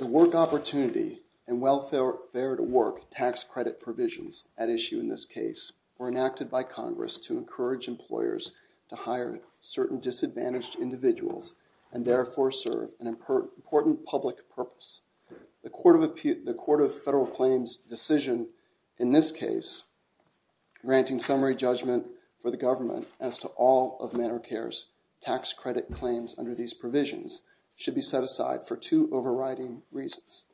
The Work Opportunity and Welfare-to-Work tax credit provisions at issue in this case were enacted by Congress to encourage employers to hire certain disadvantaged individuals and therefore serve an important public purpose. The Court of Federal Claims' decision in this case, granting summary judgment for the government as to all of Medicare's tax credit claims under these provisions, should be set aside for two overriding reasons.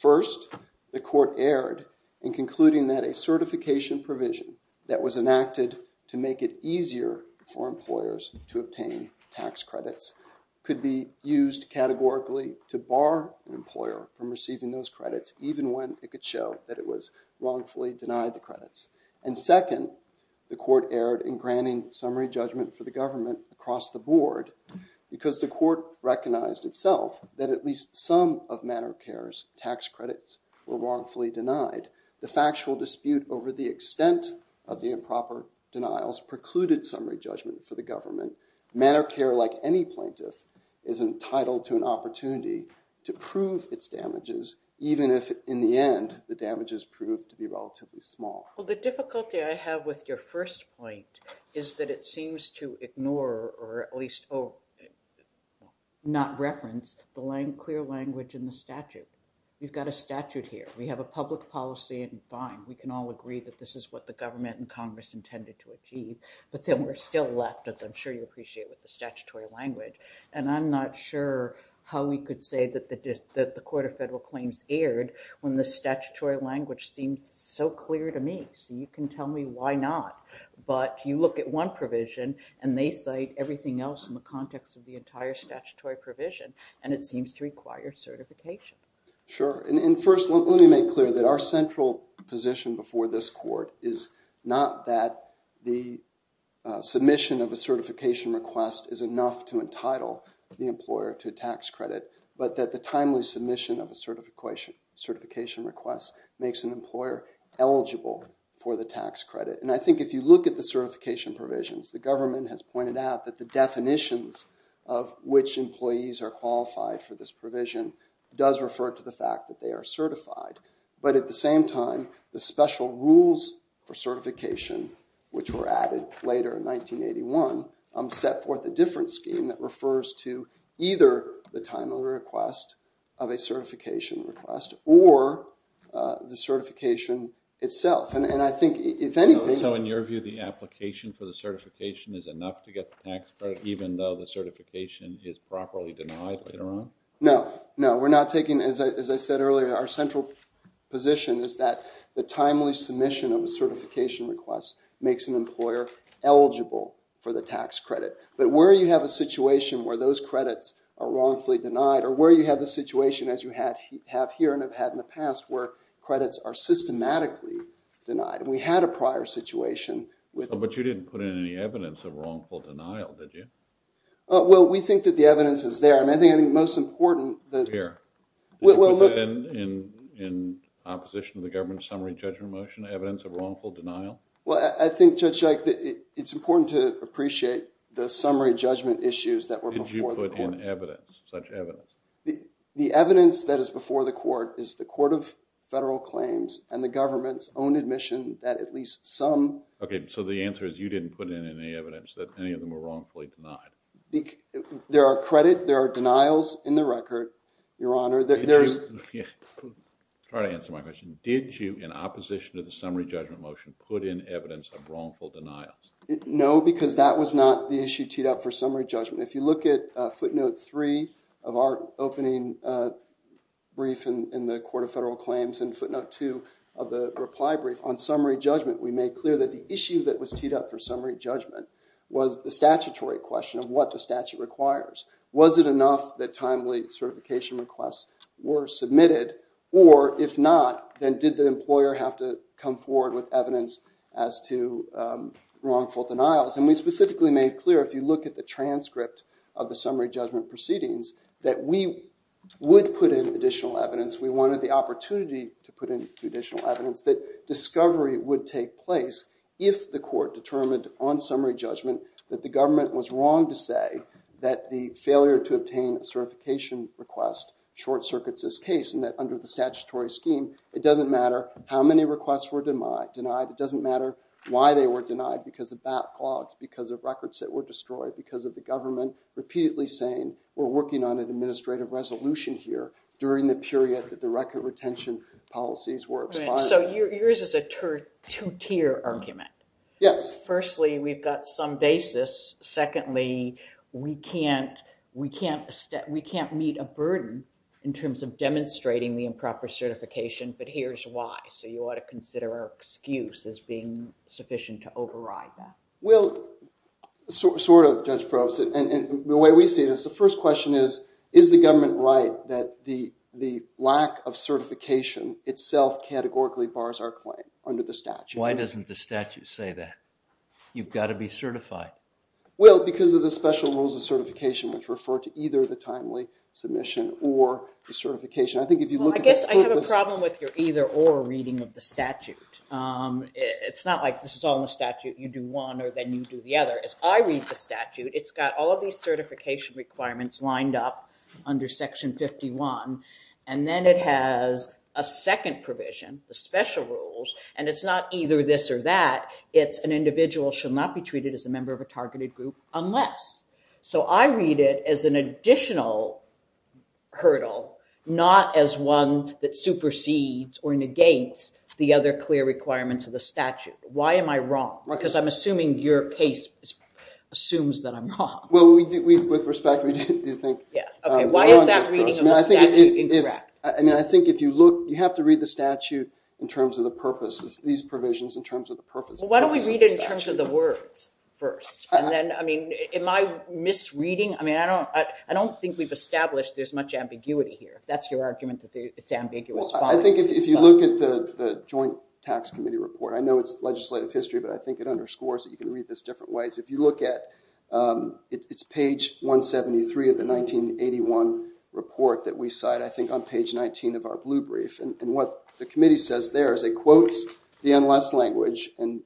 First, the court erred in concluding that a certification provision that was enacted to make it easier for employers to obtain tax credits could be used categorically to bar an employer from receiving those credits, even when it could show that it was wrongfully denied the credits. And second, the court erred in granting summary judgment for the government across the board because the court recognized itself that at least some of Medicare's tax credits were wrongfully denied. The factual dispute over the extent of the improper denials precluded summary judgment for the government. Medicare, like any plaintiff, is entitled to an opportunity to prove its damages, even if in the end the damages proved to be relatively small. Well, the difficulty I have with your first point is that it seems to ignore, or at least not reference, the clear language in the statute. You've got a statute here. We have a public policy and fine. We can all agree that this is what the government and Congress intended to achieve. But then we're still left, as I'm sure you appreciate, with the statutory language. And I'm not sure how we could say that the Court of Federal Claims erred when the statutory language seems so clear to me. So you can tell me why not. But you look at one provision, and they cite everything else in the context of the entire statutory provision. And it seems to require certification. Sure. And first, let me make clear that our central position before this court is not that the submission of a certification request is enough to entitle the employer to a tax credit, but that the timely submission of a certification request makes an employer eligible for the tax credit. And I think if you look at the certification provisions, the government has pointed out that the definitions of which employees are qualified for this provision does refer to the fact that they are certified. But at the same time, the special rules for certification, which were added later in 1981, set forth a different scheme that refers to either the timely request of a certification request or the certification itself. And I think, if anything, So in your view, the application for the certification is enough to get the tax credit, even though the certification is properly denied later on? No. No, we're not taking, as I said earlier, our central position is that the timely submission of a certification request makes an employer eligible for the tax credit. But where you have a situation where those credits are wrongfully denied, or where you have the situation, as you have here and have had in the past, where credits are systematically denied. And we had a prior situation with But you didn't put in any evidence of wrongful denial, did you? Well, we think that the evidence is there. I mean, I think the most important that Here. Well, look Did you put that in opposition to the government's summary judgment motion, evidence of wrongful denial? Well, I think, Judge Ike, that it's important to appreciate the summary judgment issues that were before the court. Did you put in evidence, such evidence? The evidence that is before the court is the Court of Federal Claims and the government's own admission that at least some. OK, so the answer is you didn't put in any evidence that any of them were wrongfully denied. There are credit, there are denials in the record, Your Honor. Sorry to answer my question. Did you, in opposition to the summary judgment motion, put in evidence of wrongful denials? No, because that was not the issue teed up for summary judgment. If you look at footnote three of our opening brief in the Court of Federal Claims and footnote two of the reply brief on summary judgment, we made clear that the issue that was teed up for summary judgment was the statutory question of what the statute requires. Was it enough that timely certification requests were submitted? Or if not, then did the employer have to come forward with evidence as to wrongful denials? And we specifically made clear, if you look at the transcript of the summary judgment proceedings, that we would put in additional evidence. We wanted the opportunity to put in additional evidence that discovery would take place if the court determined on summary judgment that the government was wrong to say that the failure to obtain a certification request short circuits this case. And that under the statutory scheme, it doesn't matter how many requests were denied. It doesn't matter why they were denied, because of backlogs, because of records that were destroyed, because of the government repeatedly saying, we're working on an administrative resolution here during the period that the record retention policies were expired. So yours is a two-tier argument. Yes. Firstly, we've got some basis. Secondly, we can't meet a burden in terms of demonstrating the improper certification, but here's why. So you ought to consider our excuse as being sufficient to override that. Well, sort of, Judge Probst. And the way we see this, the first question is, is the government right that the lack of certification itself categorically bars our claim under the statute? Why doesn't the statute say that? You've got to be certified. Well, because of the special rules of certification, which refer to either the timely submission or the certification. I think if you look at the court list. Well, I guess I have a problem with your either or reading of the statute. It's not like this is all in the statute. You do one, or then you do the other. As I read the statute, it's got all of these certification requirements lined up under Section 51. And then it has a second provision, the special rules. And it's not either this or that. It's an individual should not be treated as a member of a targeted group unless. So I read it as an additional hurdle, not as one that supersedes or negates the other clear requirements of the statute. Why am I wrong? Because I'm assuming your case assumes that I'm wrong. Well, with respect, we do think we're on the approach. Why is that reading of the statute incorrect? I mean, I think if you look, you have to read the statute in terms of the purpose. It's these provisions in terms of the purpose. Well, why don't we read it in terms of the words first? And then, I mean, am I misreading? I mean, I don't think we've established there's much ambiguity here. That's your argument that it's ambiguous. Well, I think if you look at the Joint Tax Committee report, I know it's legislative history. But I think it underscores it. You can read this different ways. If you look at, it's page 173 of the 1981 report that we cite, I think, on page 19 of our blue brief. And what the committee says there is it quotes the NLS language in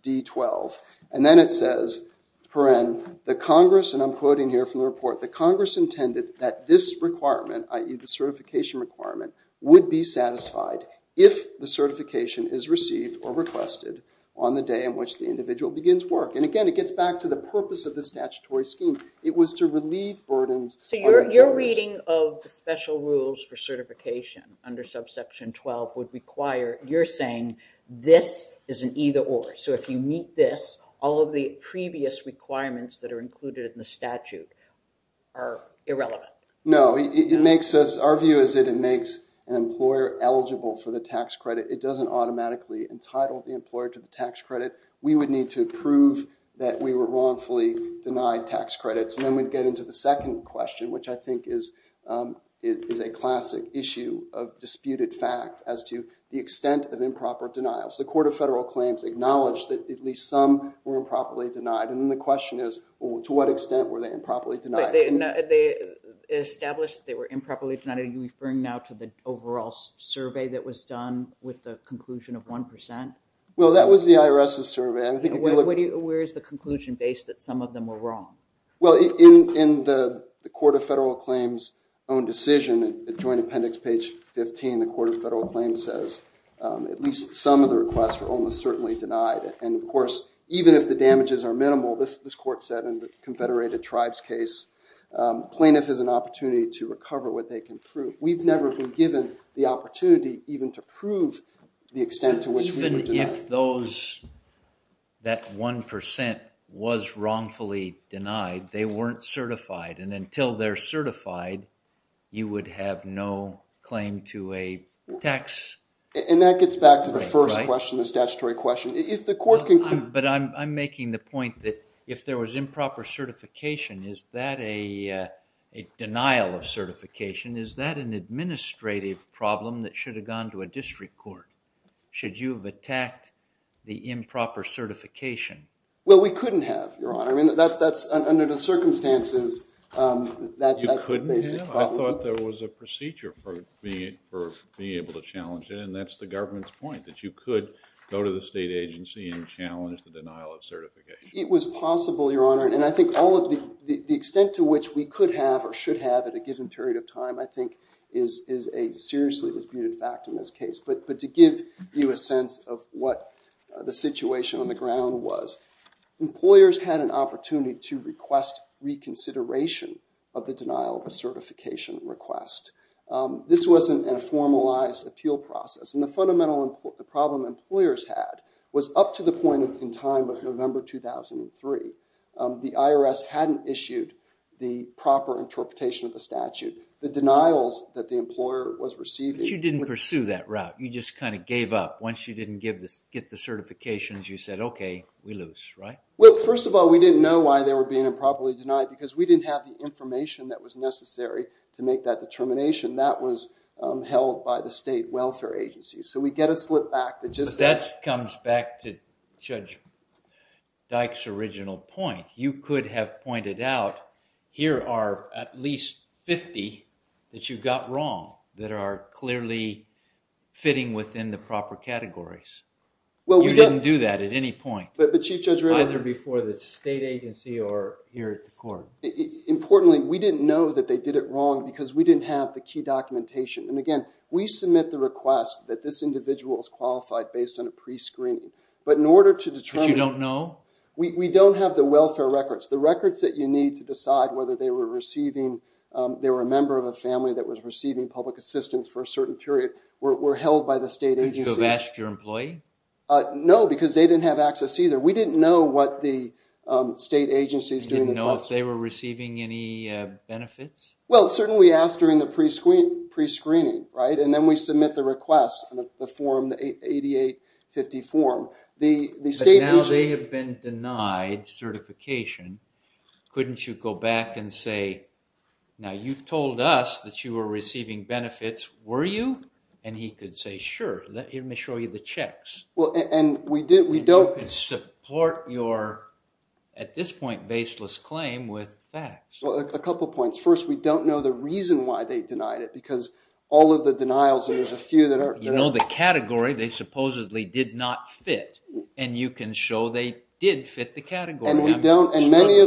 D12. And then it says, paren, the Congress, and I'm quoting here from the report, the Congress intended that this requirement, i.e. the certification requirement, would be satisfied if the certification is received or requested on the day in which the individual begins work. And again, it gets back to the purpose of the statutory scheme. It was to relieve burdens. So you're reading of the special rules for certification under subsection 12 would require, you're saying this is an either or. So if you meet this, all of the previous requirements that are included in the statute are irrelevant. No, it makes us, our view is that it makes an employer eligible for the tax credit. It doesn't automatically entitle the employer to the tax credit. We would need to prove that we were wrongfully denied tax credits. And then we'd get into the second question, which I think is a classic issue of disputed fact as to the extent of improper denials. The Court of Federal Claims acknowledged that at least some were improperly denied. And then the question is, to what extent were they improperly denied? They established they were improperly denied. Are you referring now to the overall survey that was done with the conclusion of 1%? Well, that was the IRS's survey. Where is the conclusion based that some of them were wrong? Well, in the Court of Federal Claims' own decision, the Joint Appendix, page 15, the Court of Federal Claims says at least some of the requests were almost certainly denied. And of course, even if the damages are minimal, this court said in the Confederated Tribes case, plaintiff has an opportunity to recover what they can prove. We've never been given the opportunity even to prove the extent to which we were denied. Even if that 1% was wrongfully denied, they weren't certified. And until they're certified, you would have no claim to a tax break, right? And that gets back to the first question, the statutory question. If the court can conclude. But I'm making the point that if there was improper certification, is that a denial of certification? Is that an administrative problem that should have gone to a district court? Should you have attacked the improper certification? Well, we couldn't have, Your Honor. Under the circumstances, that's the basic problem. You couldn't have? I thought there was a procedure for being able to challenge it. And that's the government's point, that you could go to the state agency and challenge the denial of certification. It was possible, Your Honor. And I think all of the extent to which we could have or should have at a given period of time, I think, is a seriously disputed fact in this case. But to give you a sense of what the situation on the ground was, employers had an opportunity to request reconsideration of the denial of a certification request. This was a formalized appeal process. And the fundamental problem employers had was up to the point in time of November 2003, the IRS hadn't issued the proper interpretation of the statute. The denials that the employer was receiving. But you didn't pursue that route. You just kind of gave up. Once you didn't get the certifications, you said, OK, we lose, right? Well, first of all, we didn't know why they were being improperly denied, because we didn't have the information that was necessary to make that determination. That was held by the state welfare agency. So we get a slip back that just says. Back to Judge Dyke's original point, you could have pointed out, here are at least 50 that you got wrong that are clearly fitting within the proper categories. Well, we didn't do that at any point. But Chief Judge Raylard. Either before the state agency or here at the court. Importantly, we didn't know that they did it wrong, because we didn't have the key documentation. And again, we submit the request that this individual is qualified based on a prescreening. But in order to determine. But you don't know? We don't have the welfare records. The records that you need to decide whether they were a member of a family that was receiving public assistance for a certain period were held by the state agency. Could you have asked your employee? No, because they didn't have access either. We didn't know what the state agency is doing. You didn't know if they were receiving any benefits? Well, certainly we asked during the prescreening, right? And then we submit the request in the form, the 8850 form. The state agency. But now they have been denied certification. Couldn't you go back and say, now you've told us that you were receiving benefits, were you? And he could say, sure, let me show you the checks. Well, and we did. We don't. And support your, at this point, baseless claim with facts. Well, a couple of points. First, we don't know the reason why they denied it. Because all of the denials, there's a few that are. You know the category they supposedly did not fit. And you can show they did fit the category. And we don't. And many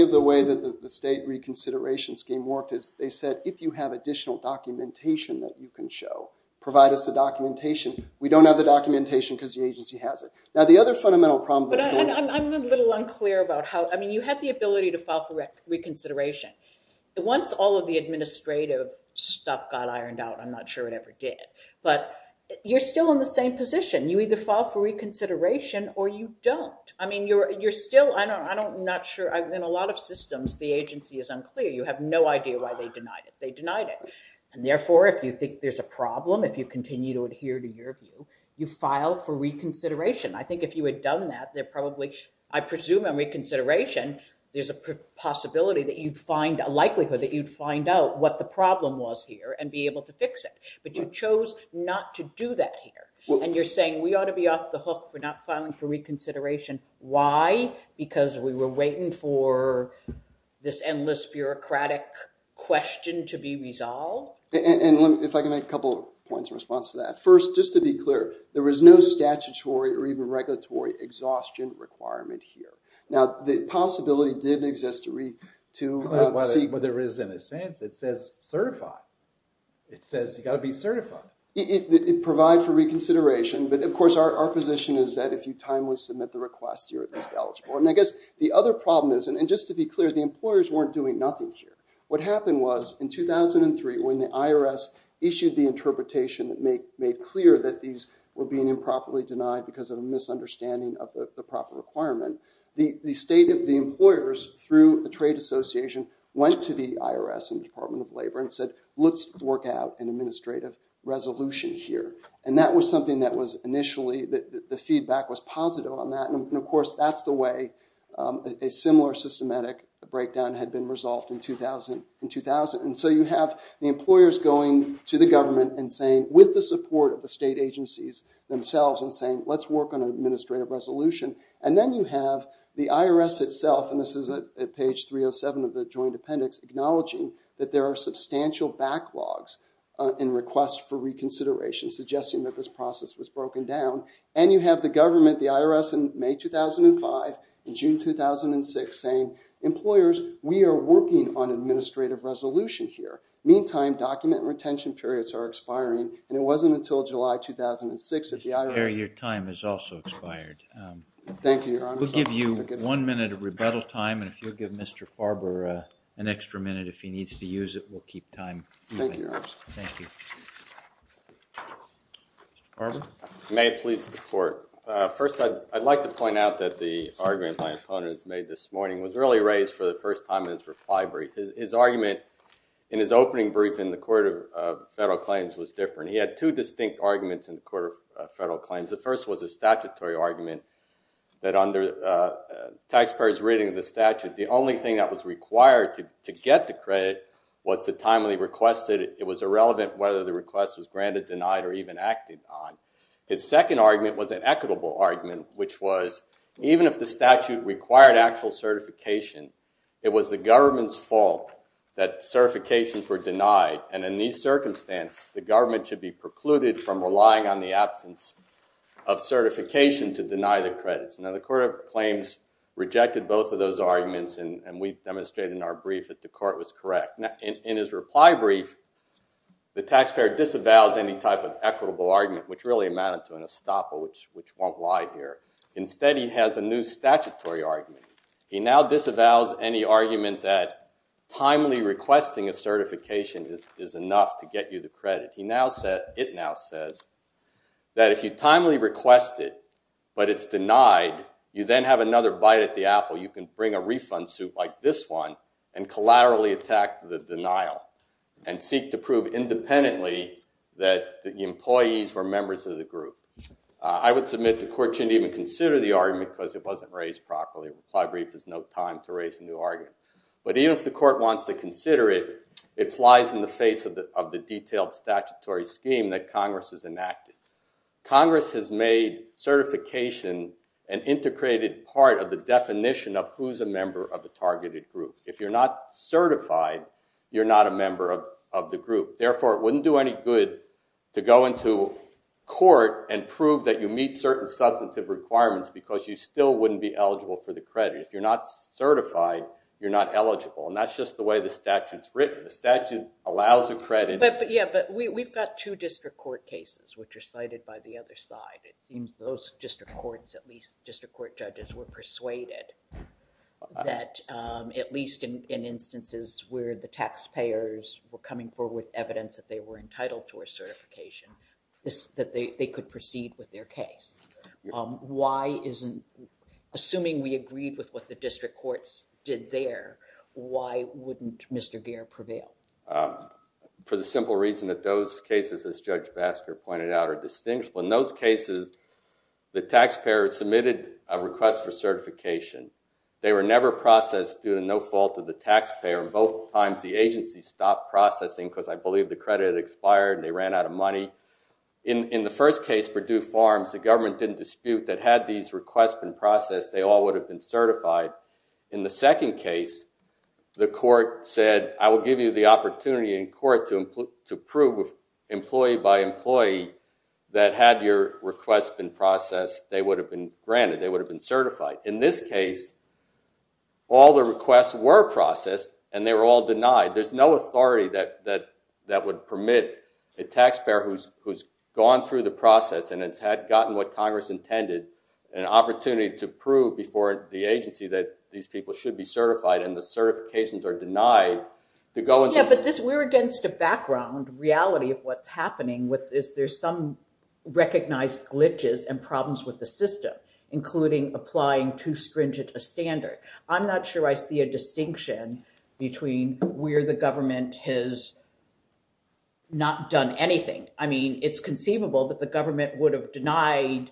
of the way that the state reconsideration scheme worked is they said, if you have additional documentation that you can show, provide us the documentation. We don't have the documentation because the agency has it. Now, the other fundamental problem that we don't have. I'm a little unclear about how. I mean, you had the ability to file for reconsideration. Once all of the administrative stuff got ironed out, I'm not sure it ever did. But you're still in the same position. You either file for reconsideration or you don't. I mean, you're still, I'm not sure. In a lot of systems, the agency is unclear. You have no idea why they denied it. They denied it. And therefore, if you think there's a problem, if you continue to adhere to your view, you file for reconsideration. I think if you had done that, there probably, I presume on reconsideration, there's a possibility that you'd find, a likelihood that you'd find out what the problem was here and be able to fix it. But you chose not to do that here. And you're saying we ought to be off the hook for not filing for reconsideration. Why? Because we were waiting for this endless bureaucratic question to be resolved? And if I can make a couple of points in response to that. First, just to be clear, there was no statutory or even regulatory exhaustion requirement here. Now, the possibility did exist to see. But there is in a sense, it says certified. It says you gotta be certified. It provides for reconsideration. But of course, our position is that if you timely submit the request, you're at least eligible. And I guess the other problem is, and just to be clear, the employers weren't doing nothing here. What happened was, in 2003, when the IRS issued the interpretation that made clear that these were being improperly denied because of a misunderstanding of the proper requirement, the employers, through the Trade Association, went to the IRS and the Department of Labor and said, let's work out an administrative resolution here. And that was something that was initially, the feedback was positive on that. And of course, that's the way a similar systematic breakdown had been resolved in 2000. And so you have the employers going to the government and saying, with the support of the state agencies themselves, and saying, let's work on an administrative resolution. And then you have the IRS itself, and this is at page 307 of the Joint Appendix, acknowledging that there are substantial backlogs in requests for reconsideration, suggesting that this process was broken down. And you have the government, the IRS, in May 2005 and June 2006 saying, employers, we are working on an administrative resolution here. Meantime, document retention periods are expiring. And it wasn't until July 2006 that the IRS. Your time has also expired. Thank you, Your Honor. We'll give you one minute of rebuttal time. And if you'll give Mr. Farber an extra minute if he needs to use it, we'll keep time. Thank you, Your Honor. Thank you. Farber? May it please the court. First, I'd like to point out that the argument my opponent has made this morning was really raised for the first time in his reply brief. His argument in his opening brief in the Court of Federal Claims was different. He had two distinct arguments in the Court of Federal Claims. The first was a statutory argument that under taxpayers' reading of the statute, the only thing that was required to get the credit was the timely request that it was irrelevant whether the request was granted, denied, or even acted on. His second argument was an equitable argument, which was, even if the statute required actual certification, it was the government's fault that certifications were denied. And in these circumstances, the government should be precluded from relying on the absence of certification to deny the credits. Now, the Court of Claims rejected both of those arguments, and we've demonstrated in our brief that the court was correct. In his reply brief, the taxpayer disavows any type of equitable argument, which really amounted to an estoppel, which won't lie here. Instead, he has a new statutory argument. a certification is enough to get you the credit. It now says that if you timely request it, but it's denied, you then have another bite at the apple. You can bring a refund suit like this one and collaterally attack the denial and seek to prove independently that the employees were members of the group. I would submit the court shouldn't even consider the argument because it wasn't raised properly. A reply brief is no time to raise a new argument. But even if the court wants to consider it, it flies in the face of the detailed statutory scheme that Congress has enacted. Congress has made certification an integrated part of the definition of who's a member of the targeted group. If you're not certified, you're not a member of the group. Therefore, it wouldn't do any good to go into court and prove that you meet certain substantive requirements because you still wouldn't be eligible for the credit. If you're not certified, you're not eligible. And that's just the way the statute's written. The statute allows a credit. Yeah, but we've got two district court cases which are cited by the other side. It seems those district courts, at least district court judges, were persuaded that, at least in instances where the taxpayers were coming forward with evidence that they were entitled to a certification, that they could proceed with their case. Why isn't, assuming we agreed with what the district courts did there, why wouldn't Mr. Geer prevail? For the simple reason that those cases, as Judge Basker pointed out, are distinguishable. In those cases, the taxpayer submitted a request for certification. They were never processed due to no fault of the taxpayer. And both times, the agency stopped processing because I believe the credit expired and they ran out of money. In the first case, Purdue Farms, the government didn't dispute that had these requests been processed, they all would have been certified. In the second case, the court said, I will give you the opportunity in court to prove employee by employee that had your request been processed, they would have been granted. They would have been certified. In this case, all the requests were processed and they were all denied. There's no authority that would permit a taxpayer who's gone through the process and has gotten what Congress intended, an opportunity to prove before the agency that these people should be certified and the certifications are denied, to go and do it. Yeah, but we're against a background reality of what's happening with this. There's some recognized glitches and problems with the system, including applying too stringent a standard. I'm not sure I see a distinction between where the government has not done anything. I mean, it's conceivable that the government would have denied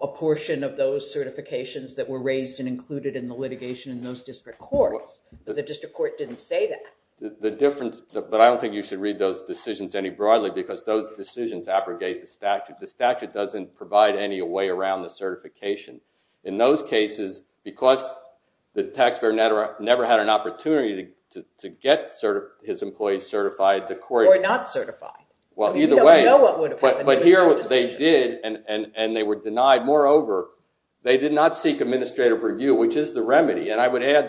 a portion of those certifications that were raised and included in the litigation in those district courts, but the district court didn't say that. The difference, but I don't think you should read those decisions any broadly because those decisions abrogate the statute. The statute doesn't provide any way around the certification. In those cases, because the taxpayer never had an opportunity to get his employee certified, the court- Or not certified. Well, either way- We don't know what would have happened if it was not a decision. But here what they did, and they were denied, moreover, they did not seek administrative review, which is the remedy. And I would add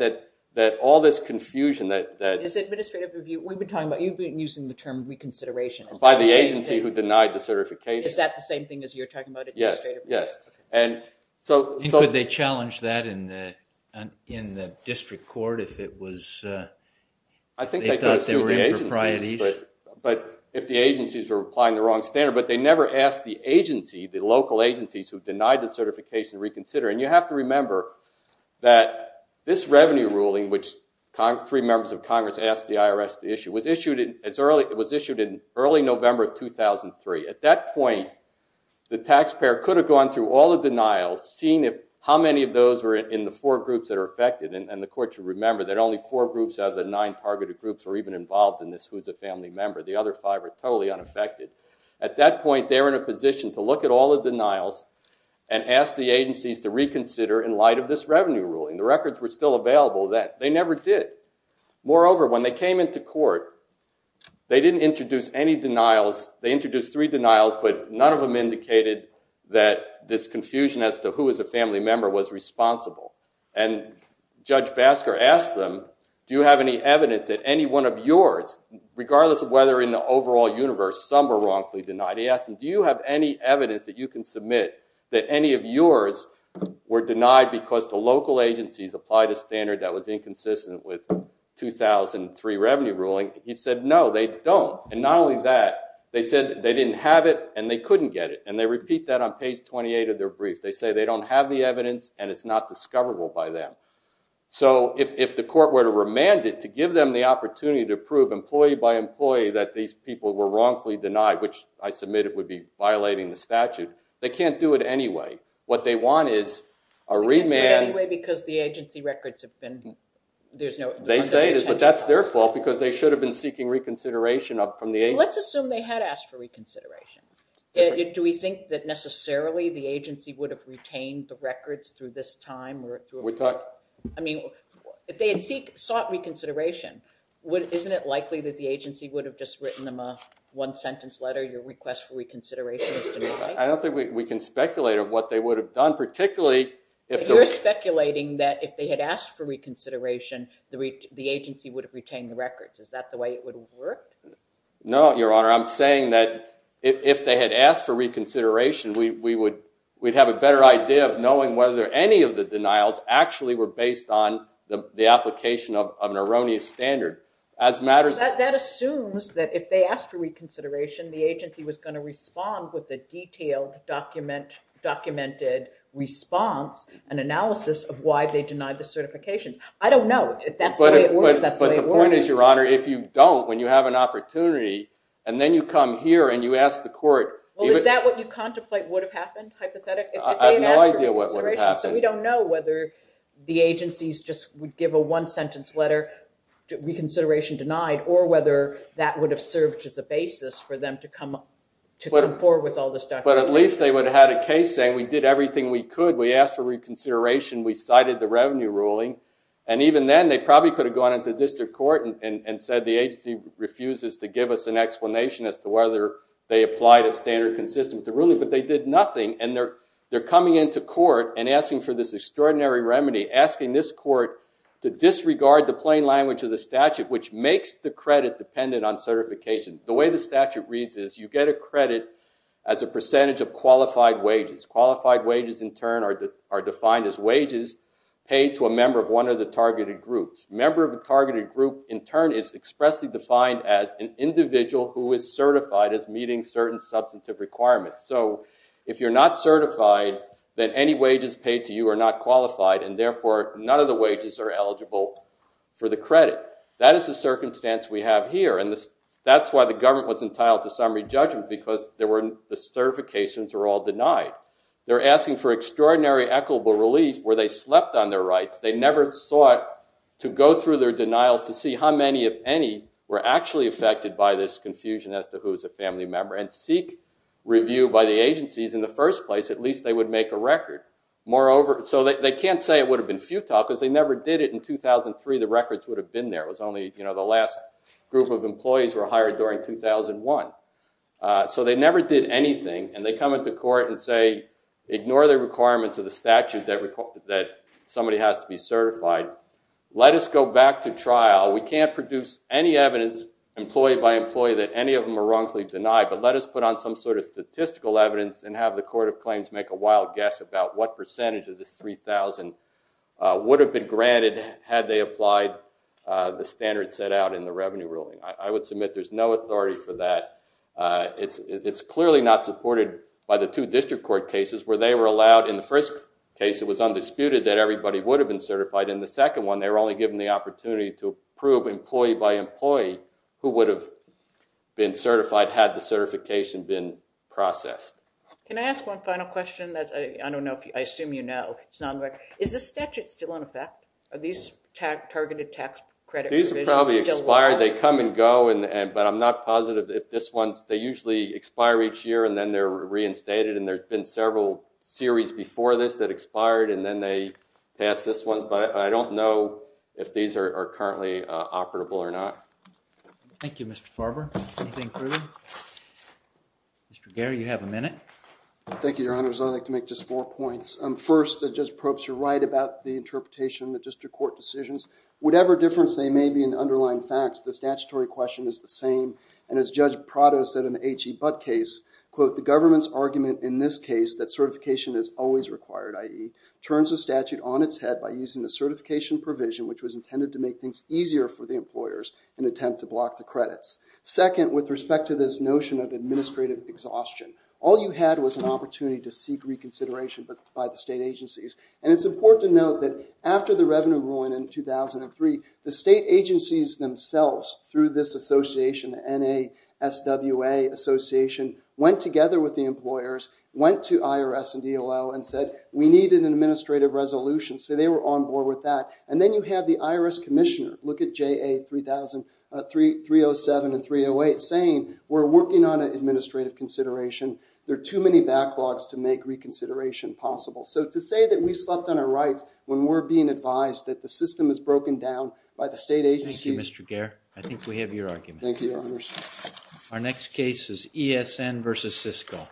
that all this confusion that- Is it administrative review? We've been talking about, you've been using the term reconsideration. By the agency who denied the certification. Is that the same thing as you're talking about, administrative review? Yes, yes. And so- And could they challenge that in the district court if it was- I think they could sue the agencies, but if the agencies were applying the wrong standard. But they never asked the agency, the local agencies, who denied the certification to reconsider. And you have to remember that this revenue ruling, which three members of Congress asked the IRS to issue, was issued in early November of 2003. At that point, the taxpayer could have gone through all the denials, seeing how many of those were in the four groups that are affected. And the court should remember that only four groups out of the nine targeted groups were even involved in this, who's a family member. The other five are totally unaffected. At that point, they were in a position to look at all the denials and ask the agencies to reconsider in light of this revenue ruling. The records were still available that they never did. Moreover, when they came into court, they didn't introduce any denials. They introduced three denials, but none of them indicated that this confusion as to who was a family member was responsible. And Judge Basker asked them, do you have any evidence that any one of yours, regardless of whether in the overall universe some were wrongfully denied? He asked them, do you have any evidence that you can submit that any of yours were denied because the local agencies applied a standard that was inconsistent with 2003 revenue ruling? He said, no, they don't. And not only that, they said they didn't have it and they couldn't get it. And they repeat that on page 28 of their brief. They say they don't have the evidence and it's not discoverable by them. So if the court were to remand it, to give them the opportunity to prove employee by employee that these people were wrongfully denied, which I submit it would be violating the statute, they can't do it anyway. What they want is a remand. They can't do it anyway because the agency records have been, there's no intention to do it. They say it is, but that's their fault because they should have been seeking reconsideration up from the agency. Let's assume they had asked for reconsideration. Do we think that necessarily the agency would have retained the records through this time? I mean, if they had sought reconsideration, isn't it likely that the agency would have just written them a one sentence letter, your request for reconsideration is denied? I don't think we can speculate of what they would have done, particularly if they were. You're speculating that if they had asked for reconsideration, the agency would have retained the records. Is that the way it would have worked? No, Your Honor. I'm saying that if they had asked for reconsideration, we would have a better idea of knowing whether any of the denials actually were based on the application of an erroneous standard. That assumes that if they asked for reconsideration, the agency was going to respond with a detailed, documented response and analysis of why they denied the certifications. I don't know if that's the way it works. But the point is, Your Honor, if you don't, when you have an opportunity, and then you come here and you ask the court. Well, is that what you contemplate would have happened, hypothetically? I have no idea what would have happened. So we don't know whether the agencies just would give a one-sentence letter, reconsideration denied, or whether that would have served as a basis for them to come forward with all this documentation. But at least they would have had a case saying, we did everything we could. We asked for reconsideration. We cited the revenue ruling. And even then, they probably could have gone into district court and said the agency refuses to give us an explanation as to whether they applied a standard consistent with the ruling. But they did nothing. And they're coming into court and asking for this extraordinary remedy, asking this court to disregard the plain language of the statute, which makes the credit dependent on certification. The way the statute reads it is you get a credit as a percentage of qualified wages. Qualified wages, in turn, are defined as wages paid to a member of one of the targeted groups. Member of a targeted group, in turn, is expressly defined as an individual who is certified as meeting certain substantive requirements. So if you're not certified, then any wages paid to you are not qualified. And therefore, none of the wages are eligible for the credit. That is the circumstance we have here. And that's why the government was entitled to summary judgment, because the certifications were all denied. They're asking for extraordinary equitable relief where they slept on their rights. They never sought to go through their denials to see how many, if any, were actually affected by this confusion as to who's a family member, and seek review by the agencies. In the first place, at least they would make a record. So they can't say it would have been futile, because they never did it in 2003. The records would have been there. It was only the last group of employees were hired during 2001. So they never did anything. And they come into court and say, ignore the requirements of the statute that somebody has to be certified. Let us go back to trial. We can't produce any evidence, employee by employee, that any of them are wrongfully denied. But let us put on some sort of statistical evidence and have the court of claims make a wild guess about what percentage of this 3,000 would have been granted had they applied the standard set out in the revenue ruling. I would submit there's no authority for that. It's clearly not supported by the two district court cases, where they were allowed, in the first case, it was undisputed that everybody would have been certified. In the second one, they were only given the opportunity to prove employee by employee who would have been certified, had the certification been processed. Can I ask one final question? I don't know if you, I assume you know. Is the statute still in effect? Are these targeted tax credit provisions still in effect? These are probably expired. They come and go. But I'm not positive if this one's, they usually expire each year. And then they're reinstated. And there's been several series before this that expired. And then they pass this one. But I don't know if these are currently operable or not. Thank you, Mr. Farber. Anything further? Mr. Gehr, you have a minute. Thank you, Your Honor. I'd like to make just four points. First, Judge Probst, you're right about the interpretation of the district court decisions. Whatever difference they may be in underlying facts, the statutory question is the same. And as Judge Prado said in the H.E. Butt case, quote, the government's argument in this case that certification is always required, i.e., turns the statute on its head by using the certification provision, which was intended to make things easier for the employers in an attempt to block the credits. Second, with respect to this notion of administrative exhaustion, all you had was an opportunity to seek reconsideration by the state agencies. And it's important to note that after the revenue ruling in 2003, the state agencies themselves, through this association, NASWA Association, went together with the employers, went to IRS and DLL, and said, we need an administrative resolution. So they were on board with that. And then you have the IRS commissioner. Look at JA 3007 and 308 saying, we're working on an administrative consideration. There are too many backlogs to make reconsideration possible. So to say that we've slept on our rights when we're being advised that the system is broken down by the state agencies. Thank you, Mr. Gehr. I think we have your argument. Thank you, Your Honors. Our next case is ESN versus Cisco. Thank you.